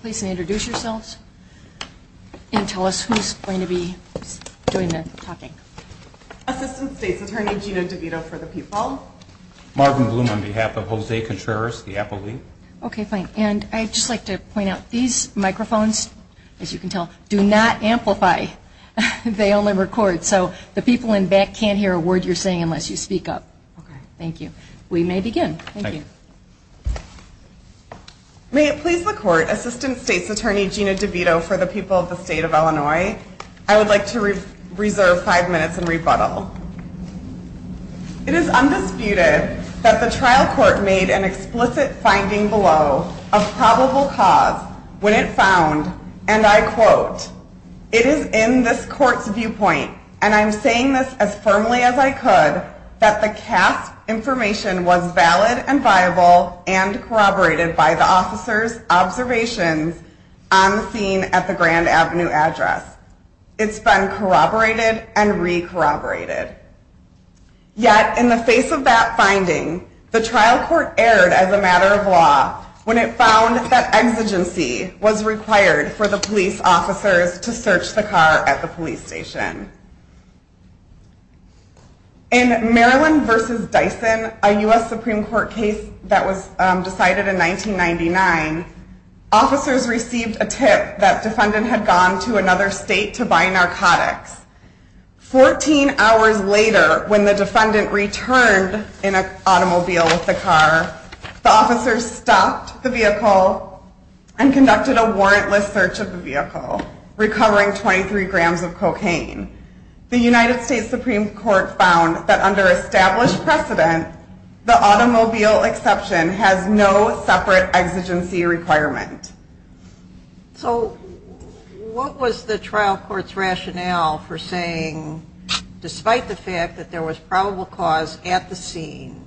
Please introduce yourselves and tell us who's going to be doing the talking. Assistant State's Attorney Gina DeVito for the People. Marvin Bloom on behalf of Jose Contreras, the Apple League. Okay, fine. And I'd just like to point out, these microphones, as you can tell, do not amplify. They only record, so the people in back can't hear a word you're saying unless you speak up. Okay. Thank you. We may begin. Thank you. May it please the Court, Assistant State's Attorney Gina DeVito for the People of the State of Illinois, I would like to reserve five minutes and rebuttal. It is undisputed that the trial court made an explicit finding below of probable cause when it found, and I quote, It is in this court's viewpoint, and I'm saying this as firmly as I could, that the CASP information was valid and viable and corroborated by the officers' observations on the scene at the Grand Avenue address. It's been corroborated and re-corroborated. Yet in the face of that finding, the trial court erred as a matter of law when it found that exigency was required for the police officers to search the car at the police station. In Maryland v. Dyson, a U.S. Supreme Court case that was decided in 1999, officers received a tip that defendant had gone to another state to buy narcotics. Fourteen hours later, when the defendant returned in an automobile with the car, the officers stopped the vehicle and conducted a warrantless search of the vehicle, recovering 23 grams of cocaine. The United States Supreme Court found that under established precedent, the automobile exception has no separate exigency requirement. So what was the trial court's rationale for saying, despite the fact that there was probable cause at the scene,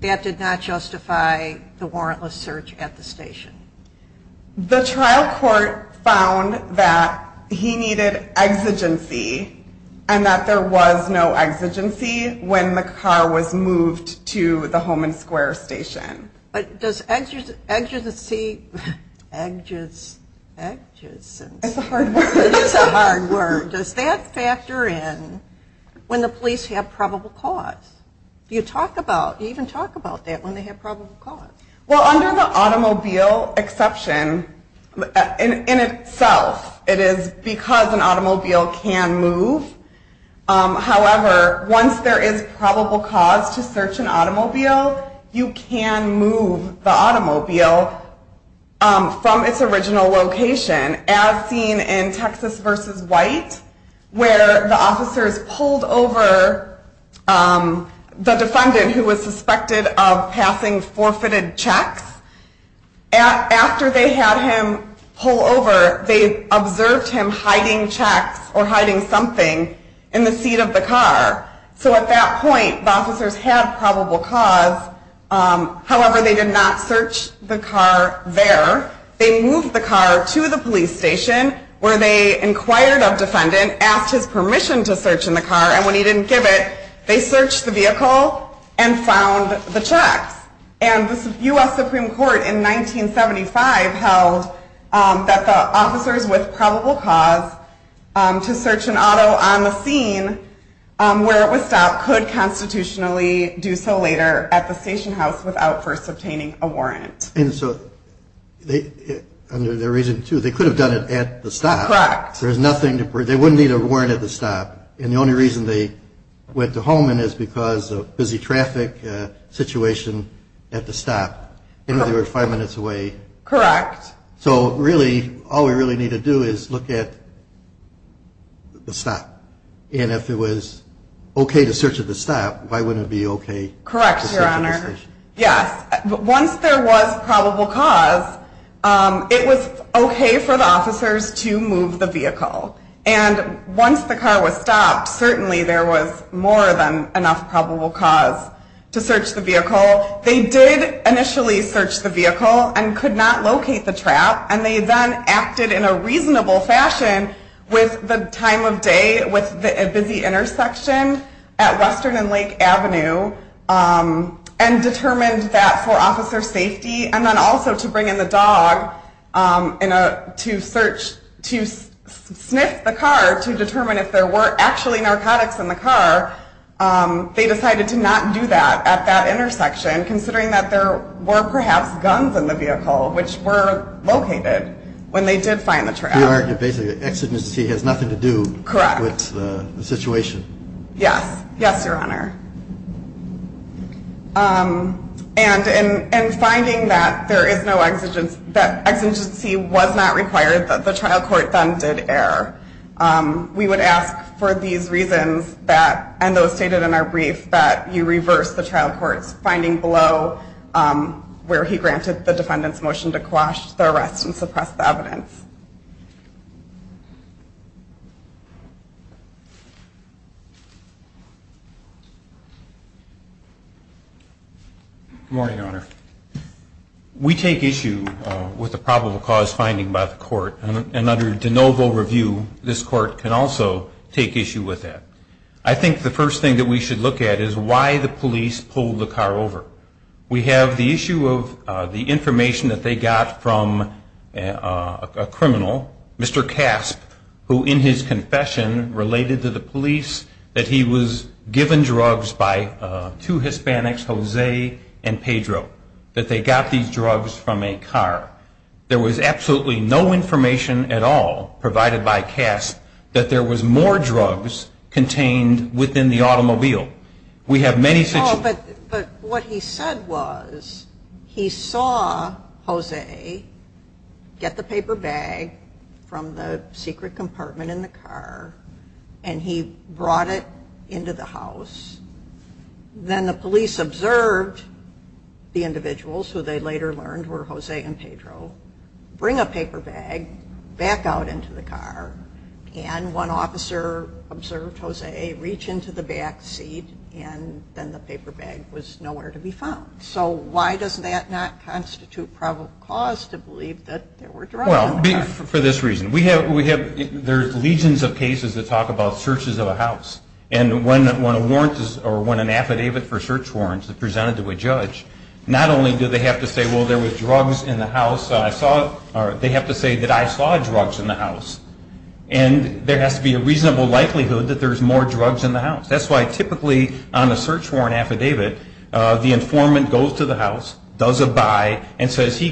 that did not justify the warrantless search at the station? The trial court found that he needed exigency, and that there was no exigency when the car was moved to the Holman Square station. But does exigency... It's a hard word. It's a hard word. Does that factor in when the police have probable cause? You even talk about that, when they have probable cause. Well, under the automobile exception, in itself, it is because an automobile can move. However, once there is probable cause to search an automobile, you can move the automobile from its original location, as seen in Texas v. White, where the officers pulled over the defendant, who was suspected of passing forfeited checks. After they had him pull over, they observed him hiding checks or hiding something in the seat of the car. So at that point, the officers had probable cause. However, they did not search the car there. They moved the car to the police station, where they inquired of the defendant, asked his permission to search in the car, and when he didn't give it, they searched the vehicle and found the checks. And the U.S. Supreme Court in 1975 held that the officers with probable cause to search an auto on the scene where it was stopped could constitutionally do so later at the station house without first obtaining a warrant. And so under their reason, too, they could have done it at the stop. Correct. There's nothing to... They wouldn't need a warrant at the stop. And the only reason they went to Holman is because of busy traffic situation at the stop. They were five minutes away. Correct. So really, all we really need to do is look at the stop. And if it was okay to search at the stop, why wouldn't it be okay to search at the station? Correct, Your Honor. Yes. Once there was probable cause, it was okay for the officers to move the vehicle. And once the car was stopped, certainly there was more than enough probable cause to search the vehicle. They did initially search the vehicle and could not locate the trap, and they then acted in a reasonable fashion with the time of day, with a busy intersection at Western and Lake Avenue, and determined that for officer safety, and then also to bring in the dog to search, to sniff the car to determine if there were actually narcotics in the car, they decided to not do that at that intersection, considering that there were perhaps guns in the vehicle, which were located when they did find the trap. Basically, the exigency has nothing to do with the situation. Correct. Yes. Yes, Your Honor. And in finding that there is no exigency, that exigency was not required, that the trial court then did err, we would ask for these reasons, and those stated in our brief, that you reverse the trial court's finding below, where he granted the defendant's motion to quash the arrest and suppress the evidence. Good morning, Your Honor. We take issue with the probable cause finding by the court, and under de novo review, this court can also take issue with that. I think the first thing that we should look at is why the police pulled the car over. We have the issue of the information that they got from a co-worker, a criminal, Mr. Casp, who in his confession related to the police, that he was given drugs by two Hispanics, Jose and Pedro, that they got these drugs from a car. There was absolutely no information at all provided by Casp that there was more drugs contained within the automobile. But what he said was, he saw Jose get the paper bag from the secret compartment in the car, and he brought it into the house, then the police observed the individuals, who they later learned were Jose and Pedro, bring a paper bag back out into the car, and one officer observed Jose reach into the back seat, and then the paper bag was nowhere to be found. So why does that not constitute probable cause to believe that there were drugs in the car? For this reason, there's legions of cases that talk about searches of a house, and when an affidavit for search warrants is presented to a judge, not only do they have to say, well, there was drugs in the house, they have to say that I saw drugs in the house, and there has to be a reasonable likelihood that there's more drugs in the house. That's why typically on a search warrant affidavit, the informant goes to the house, does a buy, and says,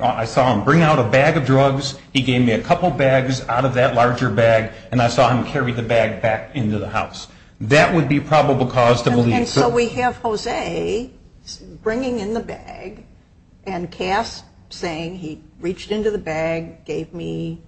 I saw him bring out a bag of drugs, he gave me a couple bags out of that larger bag, and I saw him carry the bag back into the house. That would be probable cause to believe. So we have Jose bringing in the bag and Cass saying he reached into the bag, gave me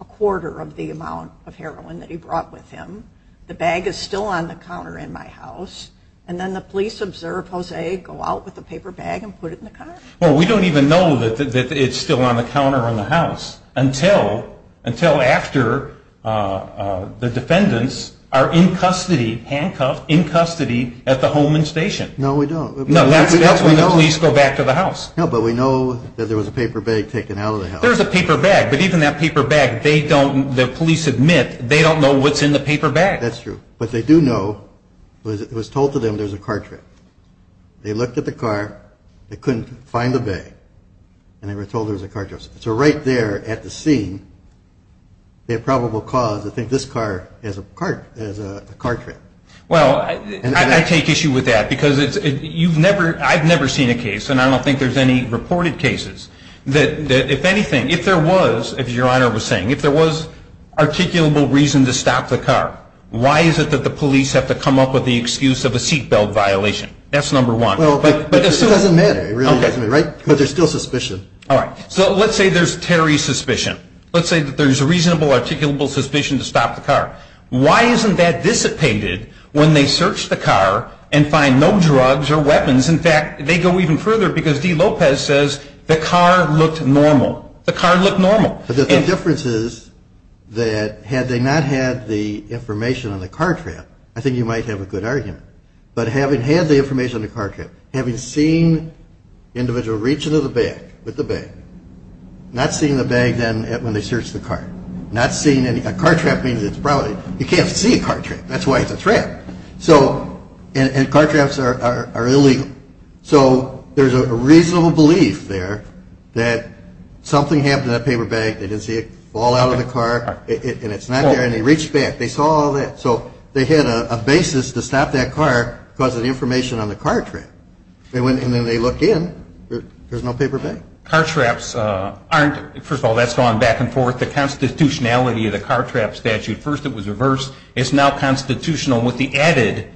a quarter of the amount of heroin that he brought with him, the bag is still on the counter in my house, and then the police observe Jose go out with the paper bag and put it in the car. Well, we don't even know that it's still on the counter in the house until after the defendants are in custody, handcuffed, in custody at the Holman Station. No, we don't. No, that's when the police go back to the house. No, but we know that there was a paper bag taken out of the house. There's a paper bag, but even that paper bag, they don't, the police admit, they don't know what's in the paper bag. That's true. But they do know, it was told to them there was a car trip. They looked at the car, they couldn't find the bag, and they were told there was a car trip. So right there at the scene, they have probable cause to think this car is a car trip. Well, I take issue with that because you've never, I've never seen a case, and I don't think there's any reported cases, that if anything, if there was, as Your Honor was saying, if there was articulable reason to stop the car, why is it that the police have to come up with the excuse of a seat belt violation? That's number one. Well, but it doesn't matter. It really doesn't matter, right? Because there's still suspicion. All right. So let's say there's Terry's suspicion. Let's say that there's a reasonable articulable suspicion to stop the car. Why isn't that dissipated when they search the car and find no drugs or weapons? In fact, they go even further because D. Lopez says the car looked normal. The car looked normal. The difference is that had they not had the information on the car trip, I think you might have a good argument. But having had the information on the car trip, having seen the individual reach into the back with the bag, not seeing the bag then when they search the car, not seeing any – a car trap means it's probably – you can't see a car trap. That's why it's a threat. So – and car traps are illegal. So there's a reasonable belief there that something happened to that paper bag, they didn't see it fall out of the car, and it's not there, and they reached back. They saw all that. So they had a basis to stop that car because of the information on the car trip. And then they look in, there's no paper bag. Car traps aren't – first of all, that's gone back and forth. The constitutionality of the car trap statute, first it was reversed, it's now constitutional with the added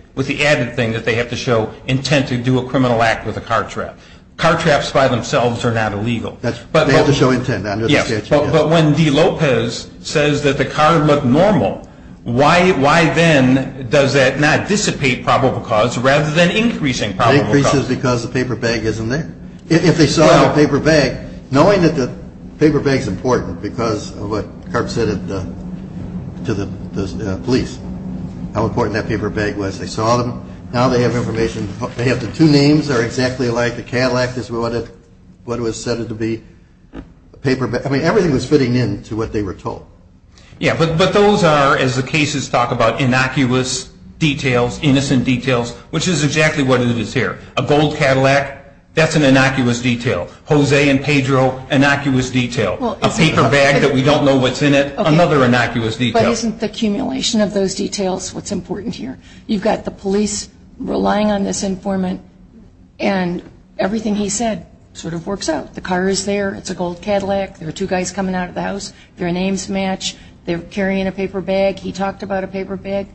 thing that they have to show intent to do a criminal act with a car trap. Car traps by themselves are not illegal. They have to show intent under the statute. But when De Lopez says that the car looked normal, why then does that not dissipate probable cause rather than increasing probable cause? It increases because the paper bag isn't there. If they saw the paper bag, knowing that the paper bag is important because of what Karp said to the police, how important that paper bag was, they saw them, now they have information. They have the two names are exactly alike. The Cadillac is what it was said it to be. Everything was fitting in to what they were told. But those are, as the cases talk about innocuous details, innocent details, which is exactly what it is here. A gold Cadillac, that's an innocuous detail. Jose and Pedro, innocuous detail. A paper bag that we don't know what's in it, another innocuous detail. But isn't the accumulation of those details what's important here? You've got the police relying on this informant and everything he said sort of works out. The car is there. It's a gold Cadillac. There are two guys coming out of the house. Their names match. They're carrying a paper bag. He talked about a paper bag.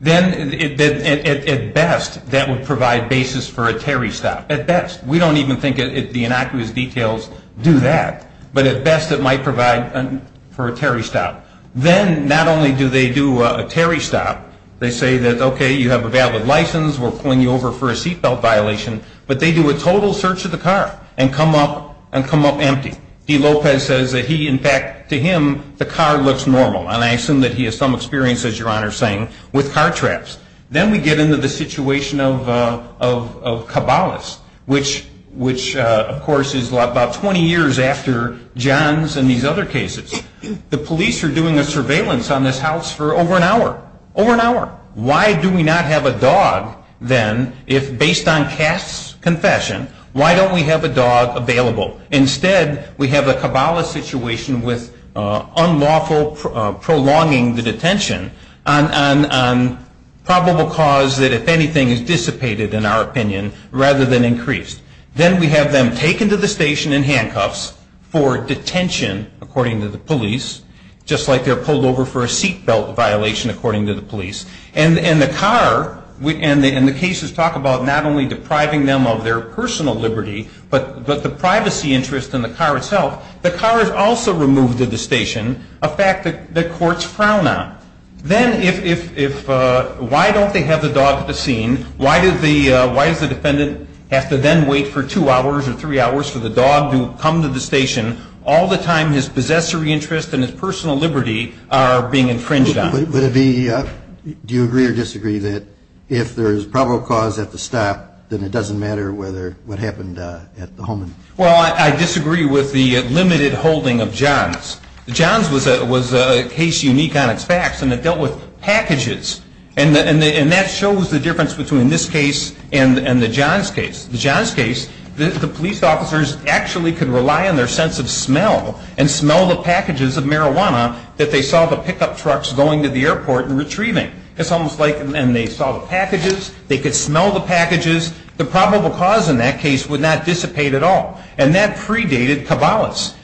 Then at best that would provide basis for a Terry stop. At best. We don't even think the innocuous details do that. But at best it might provide for a Terry stop. Then not only do they do a Terry stop, they say that, okay, you have a valid license. We're pulling you over for a seat belt violation. But they do a total search of the car and come up empty. D. Lopez says that he, in fact, to him, the car looks normal. And I assume that he has some experience, as Your Honor is saying, with car traps. Then we get into the situation of Cabales, which, of course, is about 20 years after Johns and these other cases. The police are doing a surveillance on this house for over an hour. Over an hour. Why do we not have a dog, then, if based on Cass' confession, why don't we have a dog available? Instead, we have a Cabales situation with unlawful prolonging the detention on probable cause that, if anything, is dissipated, in our opinion, rather than increased. Then we have them taken to the station in handcuffs for detention, according to the police, just like they're pulled over for a seat belt violation, according to the police. And the car, and the cases talk about not only depriving them of their personal liberty, but the privacy interest in the car itself. The car is also removed to the station, a fact that courts frown on. Then if, why don't they have the dog at the scene? Why does the defendant have to then wait for two hours or three hours for the dog to come to the station? All the time, his possessory interest and his personal liberty are being infringed on. Would it be, do you agree or disagree that if there is probable cause at the stop, then it doesn't matter what happened at the home? Well, I disagree with the limited holding of Johns. Johns was a case unique on its facts, and it dealt with packages. And that shows the difference between this case and the Johns case. The Johns case, the police officers actually could rely on their sense of smell and smell the packages of marijuana that they saw the pickup trucks going to the airport and retrieving. It's almost like, and they saw the packages, they could smell the packages. The probable cause in that case would not dissipate at all. And that predated Cabalas.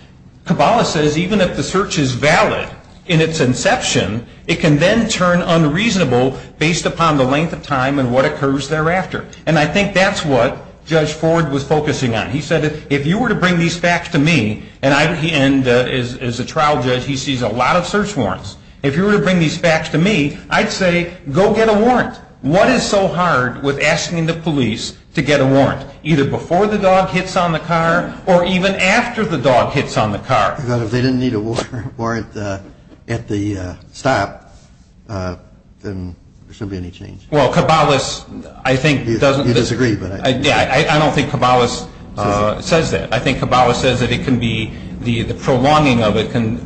Cabalas says even if the search is valid in its inception, it can then turn unreasonable based upon the length of time and what occurs thereafter. And I think that's what Judge Ford was focusing on. He said if you were to bring these facts to me, and as a trial judge, he sees a lot of search warrants. If you were to bring these facts to me, I'd say go get a warrant. What is so hard with asking the police to get a warrant, either before the dog hits on the car or even after the dog hits on the car? If they didn't need a warrant at the stop, then there shouldn't be any change. Well, Cabalas, I don't think Cabalas says that. I think Cabalas says that the prolonging of it can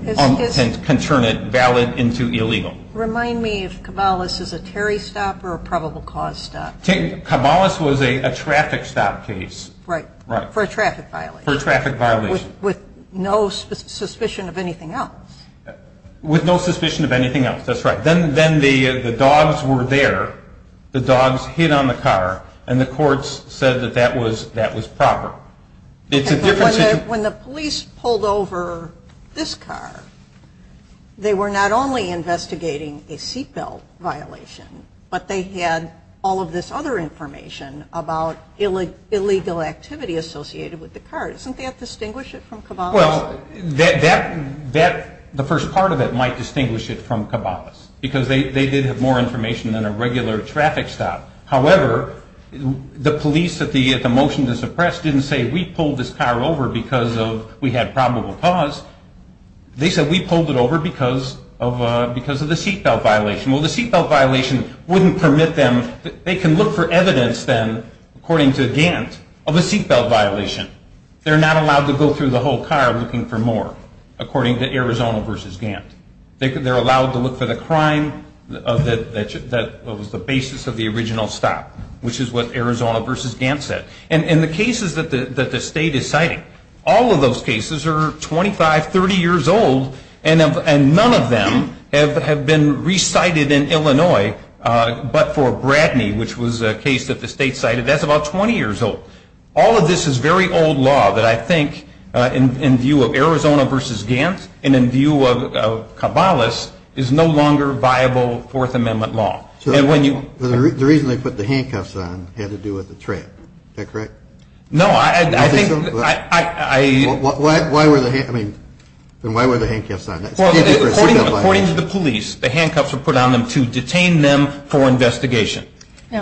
turn it valid into illegal. Remind me if Cabalas is a Terry stop or a probable cause stop. Cabalas was a traffic stop case. Right. For a traffic violation. For a traffic violation. With no suspicion of anything else. With no suspicion of anything else. That's right. Then the dogs were there, the dogs hit on the car, and the courts said that that was proper. When the police pulled over this car, they were not only investigating a seat belt violation, but they had all of this other information about illegal activity associated with the car. Well, the first part of it might distinguish it from Cabalas, because they did have more information than a regular traffic stop. However, the police at the motion to suppress didn't say, we pulled this car over because we had probable cause. They said, we pulled it over because of the seat belt violation. Well, the seat belt violation wouldn't permit them. They can look for evidence then, according to Gant, of a seat belt violation. They're not allowed to go through the whole car looking for more, according to Arizona v. Gant. They're allowed to look for the crime that was the basis of the original stop, which is what Arizona v. Gant said. And the cases that the state is citing, all of those cases are 25, 30 years old, and none of them have been re-cited in Illinois, but for Bradney, which was a case that the state cited, that's about 20 years old. All of this is very old law that I think, in view of Arizona v. Gant, and in view of Cabalas, is no longer viable Fourth Amendment law. So the reason they put the handcuffs on had to do with the trip. Is that correct? No, I think. Why were the handcuffs on? According to the police, the handcuffs were put on them to detain them for investigation.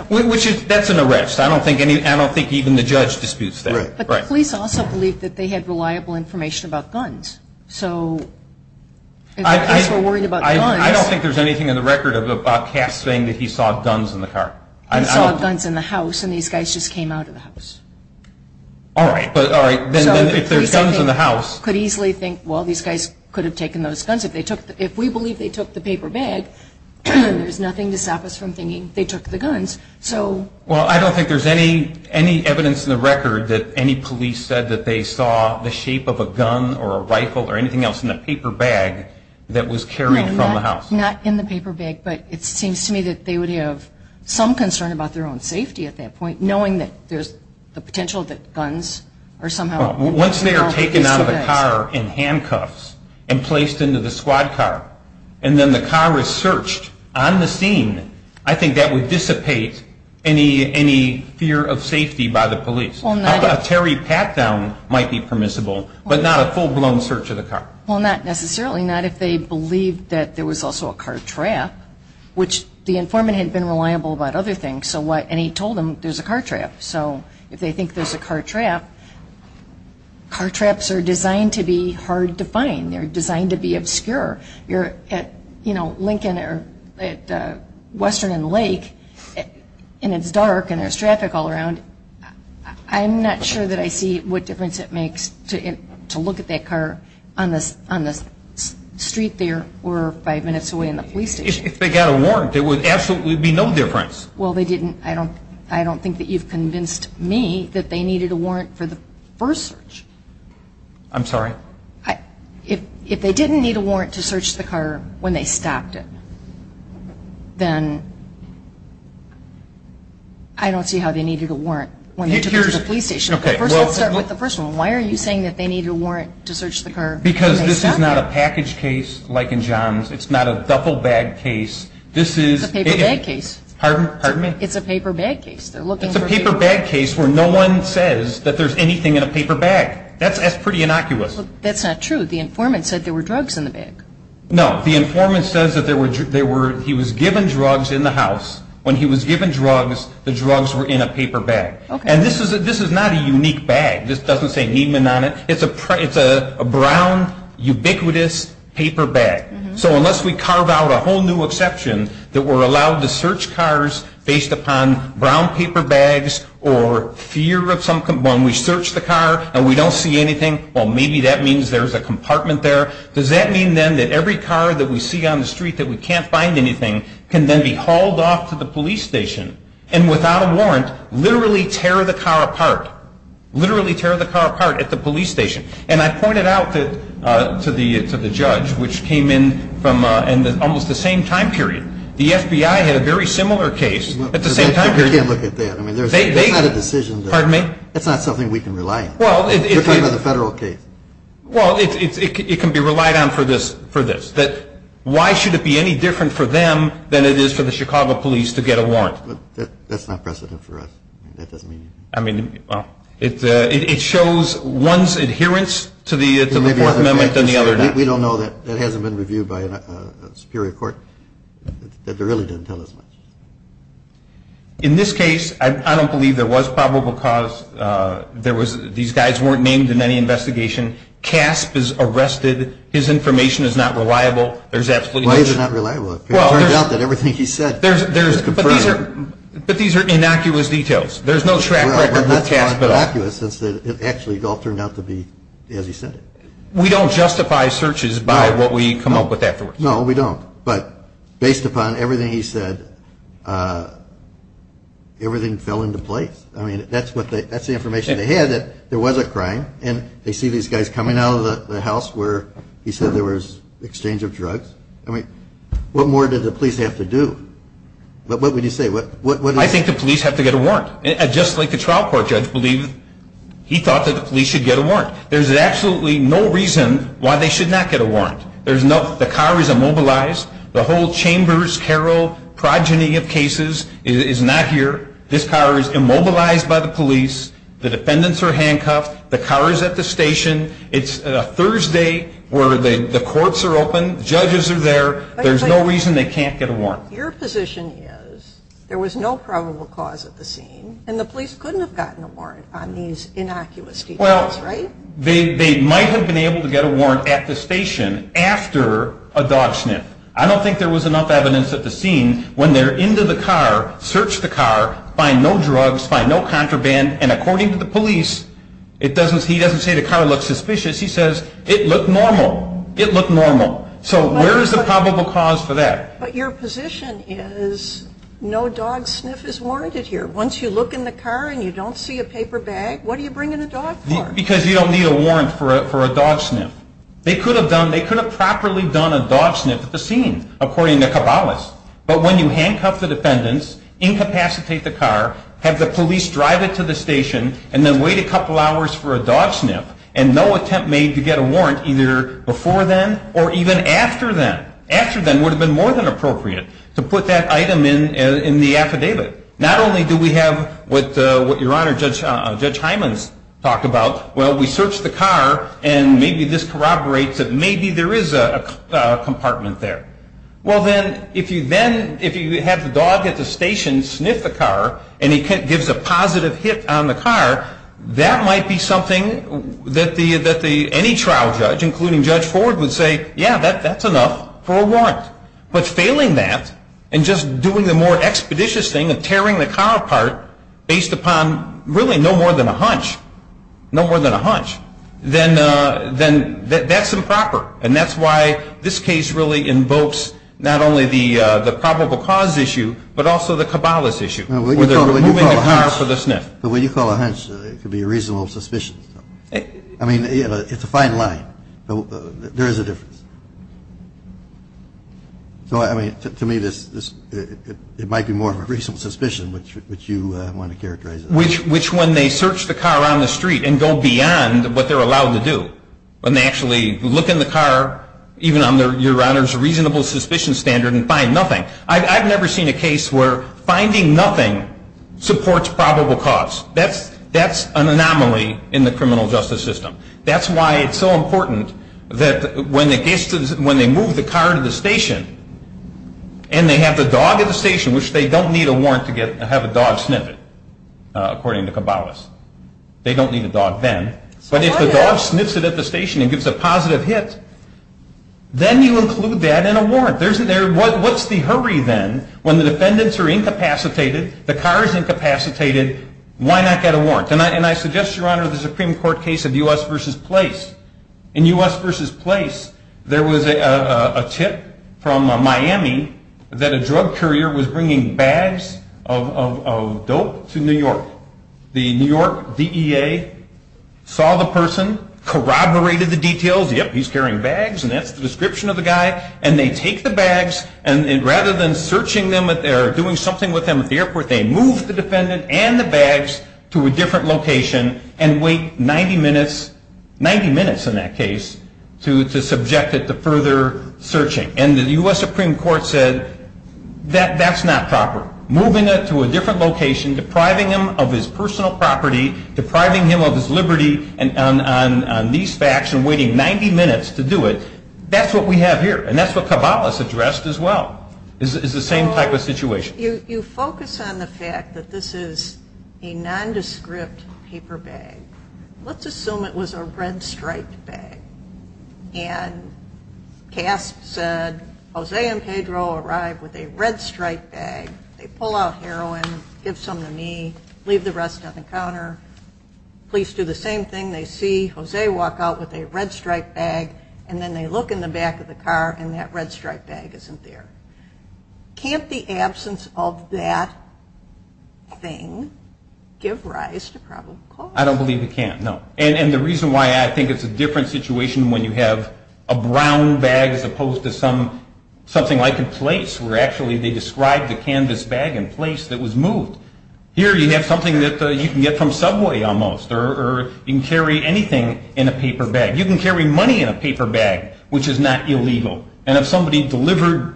Which is, that's an arrest. I don't think even the judge disputes that. Right. But the police also believe that they had reliable information about guns. So if the cops were worried about guns. I don't think there's anything in the record of a cop saying that he saw guns in the car. He saw guns in the house, and these guys just came out of the house. All right. Then if there's guns in the house. The police could easily think, well, these guys could have taken those guns. If we believe they took the paper bag, there's nothing to stop us from thinking they took the guns. Well, I don't think there's any evidence in the record that any police said that they saw the shape of a gun or a rifle or anything else in the paper bag that was carried from the house. No, not in the paper bag. But it seems to me that they would have some concern about their own safety at that point, knowing that there's the potential that guns are somehow. Once they are taken out of the car in handcuffs and placed into the squad car, and then the car is searched on the scene, I think that would dissipate any fear of safety by the police. A Terry pat-down might be permissible, but not a full-blown search of the car. Well, not necessarily. Not if they believed that there was also a car trap, which the informant had been reliable about other things. And he told them there's a car trap. So if they think there's a car trap, car traps are designed to be hard to find. They're designed to be obscure. You're at, you know, Lincoln or at Western and Lake, and it's dark and there's traffic all around. I'm not sure that I see what difference it makes to look at that car on the street there or five minutes away in the police station. If they got a warrant, there would absolutely be no difference. Well, they didn't. I don't think that you've convinced me that they needed a warrant for the first search. I'm sorry? If they didn't need a warrant to search the car when they stopped it, then I don't see how they needed a warrant when they took it to the police station. Okay. Let's start with the first one. Why are you saying that they needed a warrant to search the car when they stopped it? Because this is not a package case like in John's. It's not a duffel bag case. This is a paper bag case. Pardon me? It's a paper bag case. It's a paper bag case where no one says that there's anything in a paper bag. That's pretty innocuous. That's not true. The informant said there were drugs in the bag. No. The informant says that he was given drugs in the house. When he was given drugs, the drugs were in a paper bag. And this is not a unique bag. This doesn't say Neiman on it. It's a brown, ubiquitous paper bag. So unless we carve out a whole new exception that we're allowed to search cars based upon brown paper bags or fear of something when we search the car and we don't see anything, well, maybe that means there's a compartment there. Does that mean then that every car that we see on the street that we can't find anything can then be hauled off to the police station and without a warrant literally tear the car apart, literally tear the car apart at the police station? And I pointed out to the judge, which came in almost the same time period, the FBI had a very similar case at the same time period. You can't look at that. That's not a decision. Pardon me? That's not something we can rely on. You're talking about the federal case. Well, it can be relied on for this. Why should it be any different for them than it is for the Chicago police to get a warrant? That's not precedent for us. That doesn't mean anything. It shows one's adherence to the Fourth Amendment than the other does. We don't know. That hasn't been reviewed by a superior court. It really didn't tell us much. In this case, I don't believe there was probable cause. These guys weren't named in any investigation. Casp is arrested. His information is not reliable. Why is it not reliable? It turns out that everything he said is confirmed. But these are innocuous details. There's no track record of Casp at all. Well, we're not calling it innocuous since it actually all turned out to be as he said it. We don't justify searches by what we come up with afterwards. No, we don't. But based upon everything he said, everything fell into place. I mean, that's the information they had, that there was a crime. And they see these guys coming out of the house where he said there was exchange of drugs. I mean, what more did the police have to do? What would you say? I think the police have to get a warrant. Just like the trial court judge believed he thought that the police should get a warrant. There's absolutely no reason why they should not get a warrant. The car is immobilized. The whole Chambers Carroll progeny of cases is not here. This car is immobilized by the police. The defendants are handcuffed. The car is at the station. It's a Thursday where the courts are open. Judges are there. There's no reason they can't get a warrant. Your position is there was no probable cause at the scene, and the police couldn't have gotten a warrant on these innocuous details, right? They might have been able to get a warrant at the station after a dog sniff. I don't think there was enough evidence at the scene when they're into the car, search the car, find no drugs, find no contraband. And according to the police, he doesn't say the car looks suspicious. He says it looked normal. It looked normal. So where is the probable cause for that? But your position is no dog sniff is warranted here. Once you look in the car and you don't see a paper bag, what do you bring in a dog for? Because you don't need a warrant for a dog sniff. They could have done, they could have properly done a dog sniff at the scene, according to Cabales. But when you handcuff the defendants, incapacitate the car, have the police drive it to the station, and then wait a couple hours for a dog sniff, and no attempt made to get a warrant either before then or even after then. After then would have been more than appropriate to put that item in the affidavit. Not only do we have what your Honor, Judge Hyman's talked about, well, we search the car and maybe this corroborates that maybe there is a compartment there. Well, then, if you have the dog at the station sniff the car and he gives a positive hit on the car, that might be something that any trial judge, including Judge Ford, would say, yeah, that's enough for a warrant. But failing that and just doing the more expeditious thing of tearing the car apart, based upon really no more than a hunch, no more than a hunch, then that's improper. And that's why this case really invokes not only the probable cause issue, but also the Cabales issue, where they're removing the car for the sniff. But when you call a hunch, it could be a reasonable suspicion. I mean, it's a fine line. There is a difference. To me, it might be more of a reasonable suspicion, which you want to characterize as. Which when they search the car on the street and go beyond what they're allowed to do, when they actually look in the car, even under your Honor's reasonable suspicion standard, and find nothing. I've never seen a case where finding nothing supports probable cause. That's an anomaly in the criminal justice system. That's why it's so important that when they move the car to the station and they have the dog at the station, which they don't need a warrant to have a dog sniff it, according to Cabales. They don't need a dog then. But if the dog sniffs it at the station and gives a positive hit, then you include that in a warrant. What's the hurry then when the defendants are incapacitated, the car is incapacitated, why not get a warrant? And I suggest, Your Honor, the Supreme Court case of U.S. v. Place. In U.S. v. Place, there was a tip from Miami that a drug courier was bringing bags of dope to New York. The New York DEA saw the person, corroborated the details, yep, he's carrying bags and that's the description of the guy, and they take the bags and rather than searching them or doing something with them at the airport, they move the defendant and the bags to a different location and wait 90 minutes in that case to subject it to further searching. And the U.S. Supreme Court said that's not proper. Moving it to a different location, depriving him of his personal property, depriving him of his liberty on these facts and waiting 90 minutes to do it, that's what we have here and that's what Cabales addressed as well. It's the same type of situation. You focus on the fact that this is a nondescript paper bag. Let's assume it was a red-striped bag. And CASP said, Jose and Pedro arrived with a red-striped bag. They pull out heroin, give some to me, leave the rest on the counter. Police do the same thing. They see Jose walk out with a red-striped bag and then they look in the back of the car and that red-striped bag isn't there. Can't the absence of that thing give rise to probable cause? I don't believe it can, no. And the reason why I think it's a different situation when you have a brown bag as opposed to something like a place where actually they described the canvas bag in place that was moved. Here you have something that you can get from Subway almost or you can carry anything in a paper bag. You can carry money in a paper bag, which is not illegal. And if somebody delivered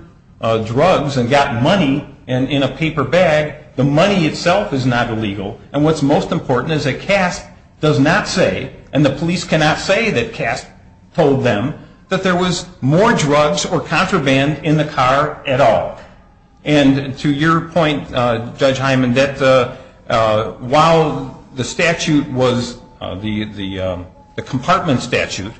drugs and got money in a paper bag, the money itself is not illegal. And what's most important is that CASP does not say, and the police cannot say that CASP told them, that there was more drugs or contraband in the car at all. And to your point, Judge Hyman, that while the statute was the compartment statute,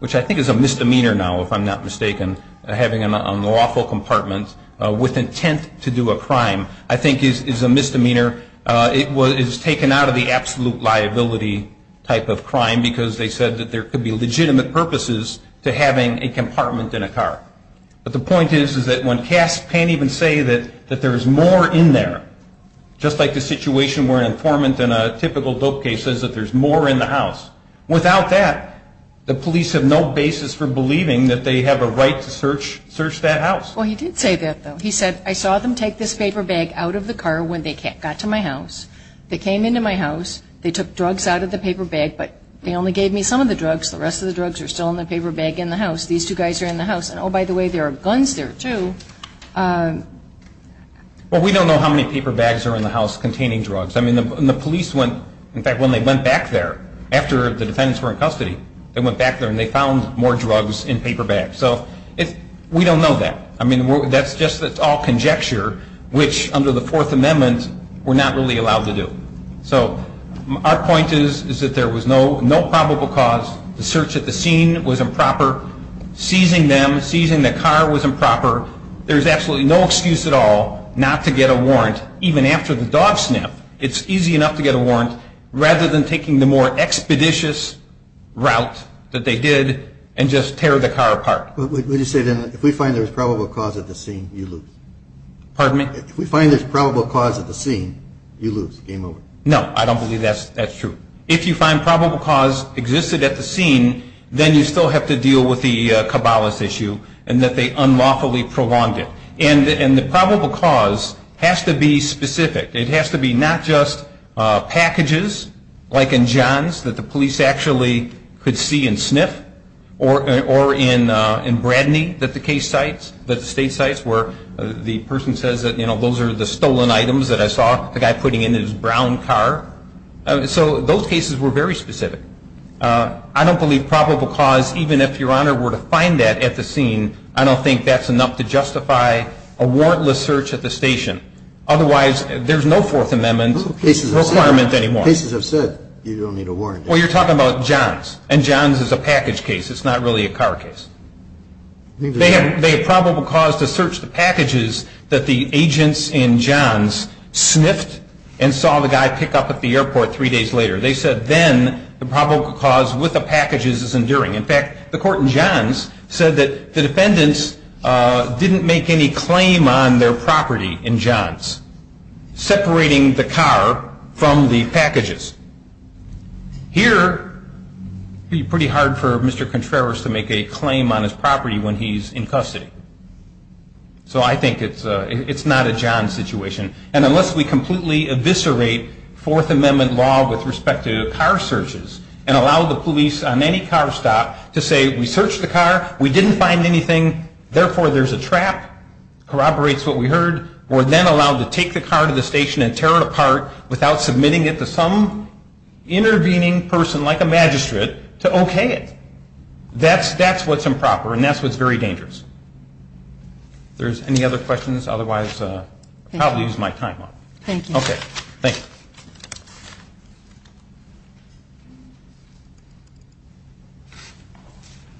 which I think is a misdemeanor now, if I'm not mistaken, having an unlawful compartment with intent to do a crime, I think is a misdemeanor. It was taken out of the absolute liability type of crime because they said that there could be legitimate purposes to having a compartment in a car. But the point is that when CASP can't even say that there's more in there, just like the situation where an informant in a typical dope case says that there's more in the house, without that, the police have no basis for believing that they have a right to search that house. Well, he did say that, though. He said, I saw them take this paper bag out of the car when they got to my house. They came into my house. They took drugs out of the paper bag, but they only gave me some of the drugs. The rest of the drugs are still in the paper bag in the house. These two guys are in the house. And, oh, by the way, there are guns there, too. Well, we don't know how many paper bags are in the house containing drugs. I mean, the police went, in fact, when they went back there, after the defendants were in custody, they went back there and they found more drugs in paper bags. So we don't know that. I mean, that's just all conjecture, which under the Fourth Amendment we're not really allowed to do. So our point is that there was no probable cause. The search at the scene was improper. Seizing them, seizing the car was improper. There's absolutely no excuse at all not to get a warrant, even after the dog sniff. It's easy enough to get a warrant rather than taking the more expeditious route that they did and just tear the car apart. Would you say then if we find there was probable cause at the scene, you lose? Pardon me? If we find there's probable cause at the scene, you lose. Game over. No, I don't believe that's true. If you find probable cause existed at the scene, then you still have to deal with the Cabalas issue and that they unlawfully prolonged it. And the probable cause has to be specific. It has to be not just packages like in John's that the police actually could see and sniff or in Bradney that the case cites, that the state cites where the person says that, you know, those are the stolen items that I saw the guy putting in his brown car. So those cases were very specific. I don't believe probable cause, even if Your Honor were to find that at the scene, I don't think that's enough to justify a warrantless search at the station. Otherwise, there's no Fourth Amendment requirement anymore. Cases have said you don't need a warrant. Well, you're talking about John's, and John's is a package case. It's not really a car case. They had probable cause to search the packages that the agents in John's sniffed and saw the guy pick up at the airport three days later. They said then the probable cause with the packages is enduring. In fact, the court in John's said that the defendants didn't make any claim on their property in John's, separating the car from the packages. Here, it would be pretty hard for Mr. Contreras to make a claim on his property when he's in custody. And unless we completely eviscerate Fourth Amendment law with respect to car searches and allow the police on any car stop to say we searched the car, we didn't find anything, therefore there's a trap, corroborates what we heard, we're then allowed to take the car to the station and tear it apart without submitting it to some intervening person like a magistrate to okay it. That's what's improper, and that's what's very dangerous. If there's any other questions, otherwise I'll probably use my time up. Thank you. Okay. Thank you.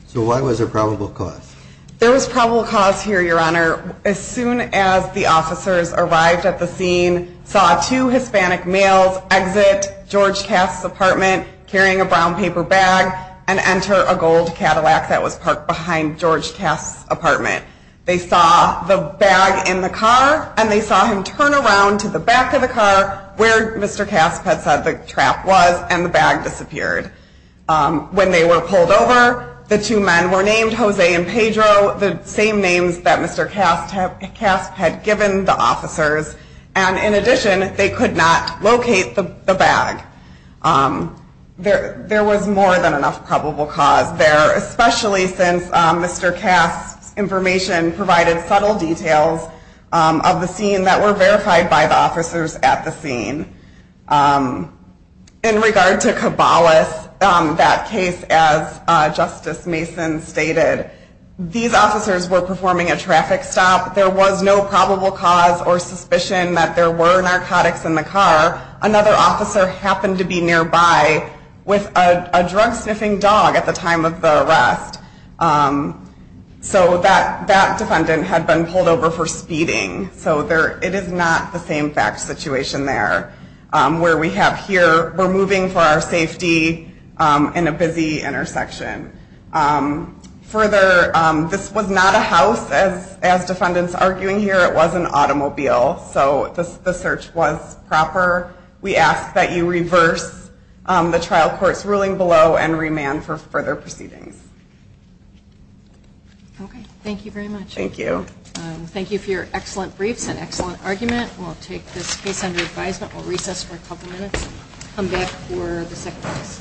So why was there probable cause? There was probable cause here, Your Honor. As soon as the officers arrived at the scene, saw two Hispanic males exit George Kass's apartment carrying a brown paper bag and enter a gold Cadillac that was parked behind George Kass's apartment. They saw the bag in the car, and they saw him turn around to the back of the car where Mr. Kass had said the trap was, and the bag disappeared. When they were pulled over, the two men were named Jose and Pedro, the same names that Mr. Kass had given the officers. And in addition, they could not locate the bag. There was more than enough probable cause there, especially since Mr. Kass's information provided subtle details of the scene that were verified by the officers at the scene. In regard to Cabales, that case, as Justice Mason stated, these officers were performing a traffic stop. There was no probable cause or suspicion that there were narcotics in the car. Another officer happened to be nearby with a drug-sniffing dog at the time of the arrest. So that defendant had been pulled over for speeding. So it is not the same fact situation there, where we have here, we're moving for our safety in a busy intersection. Further, this was not a house, as defendants are arguing here. It was an automobile, so the search was proper. We ask that you reverse the trial court's ruling below and remand for further proceedings. Okay, thank you very much. Thank you. Thank you for your excellent briefs and excellent argument. We'll take this case under advisement. We'll recess for a couple minutes and come back for the second case.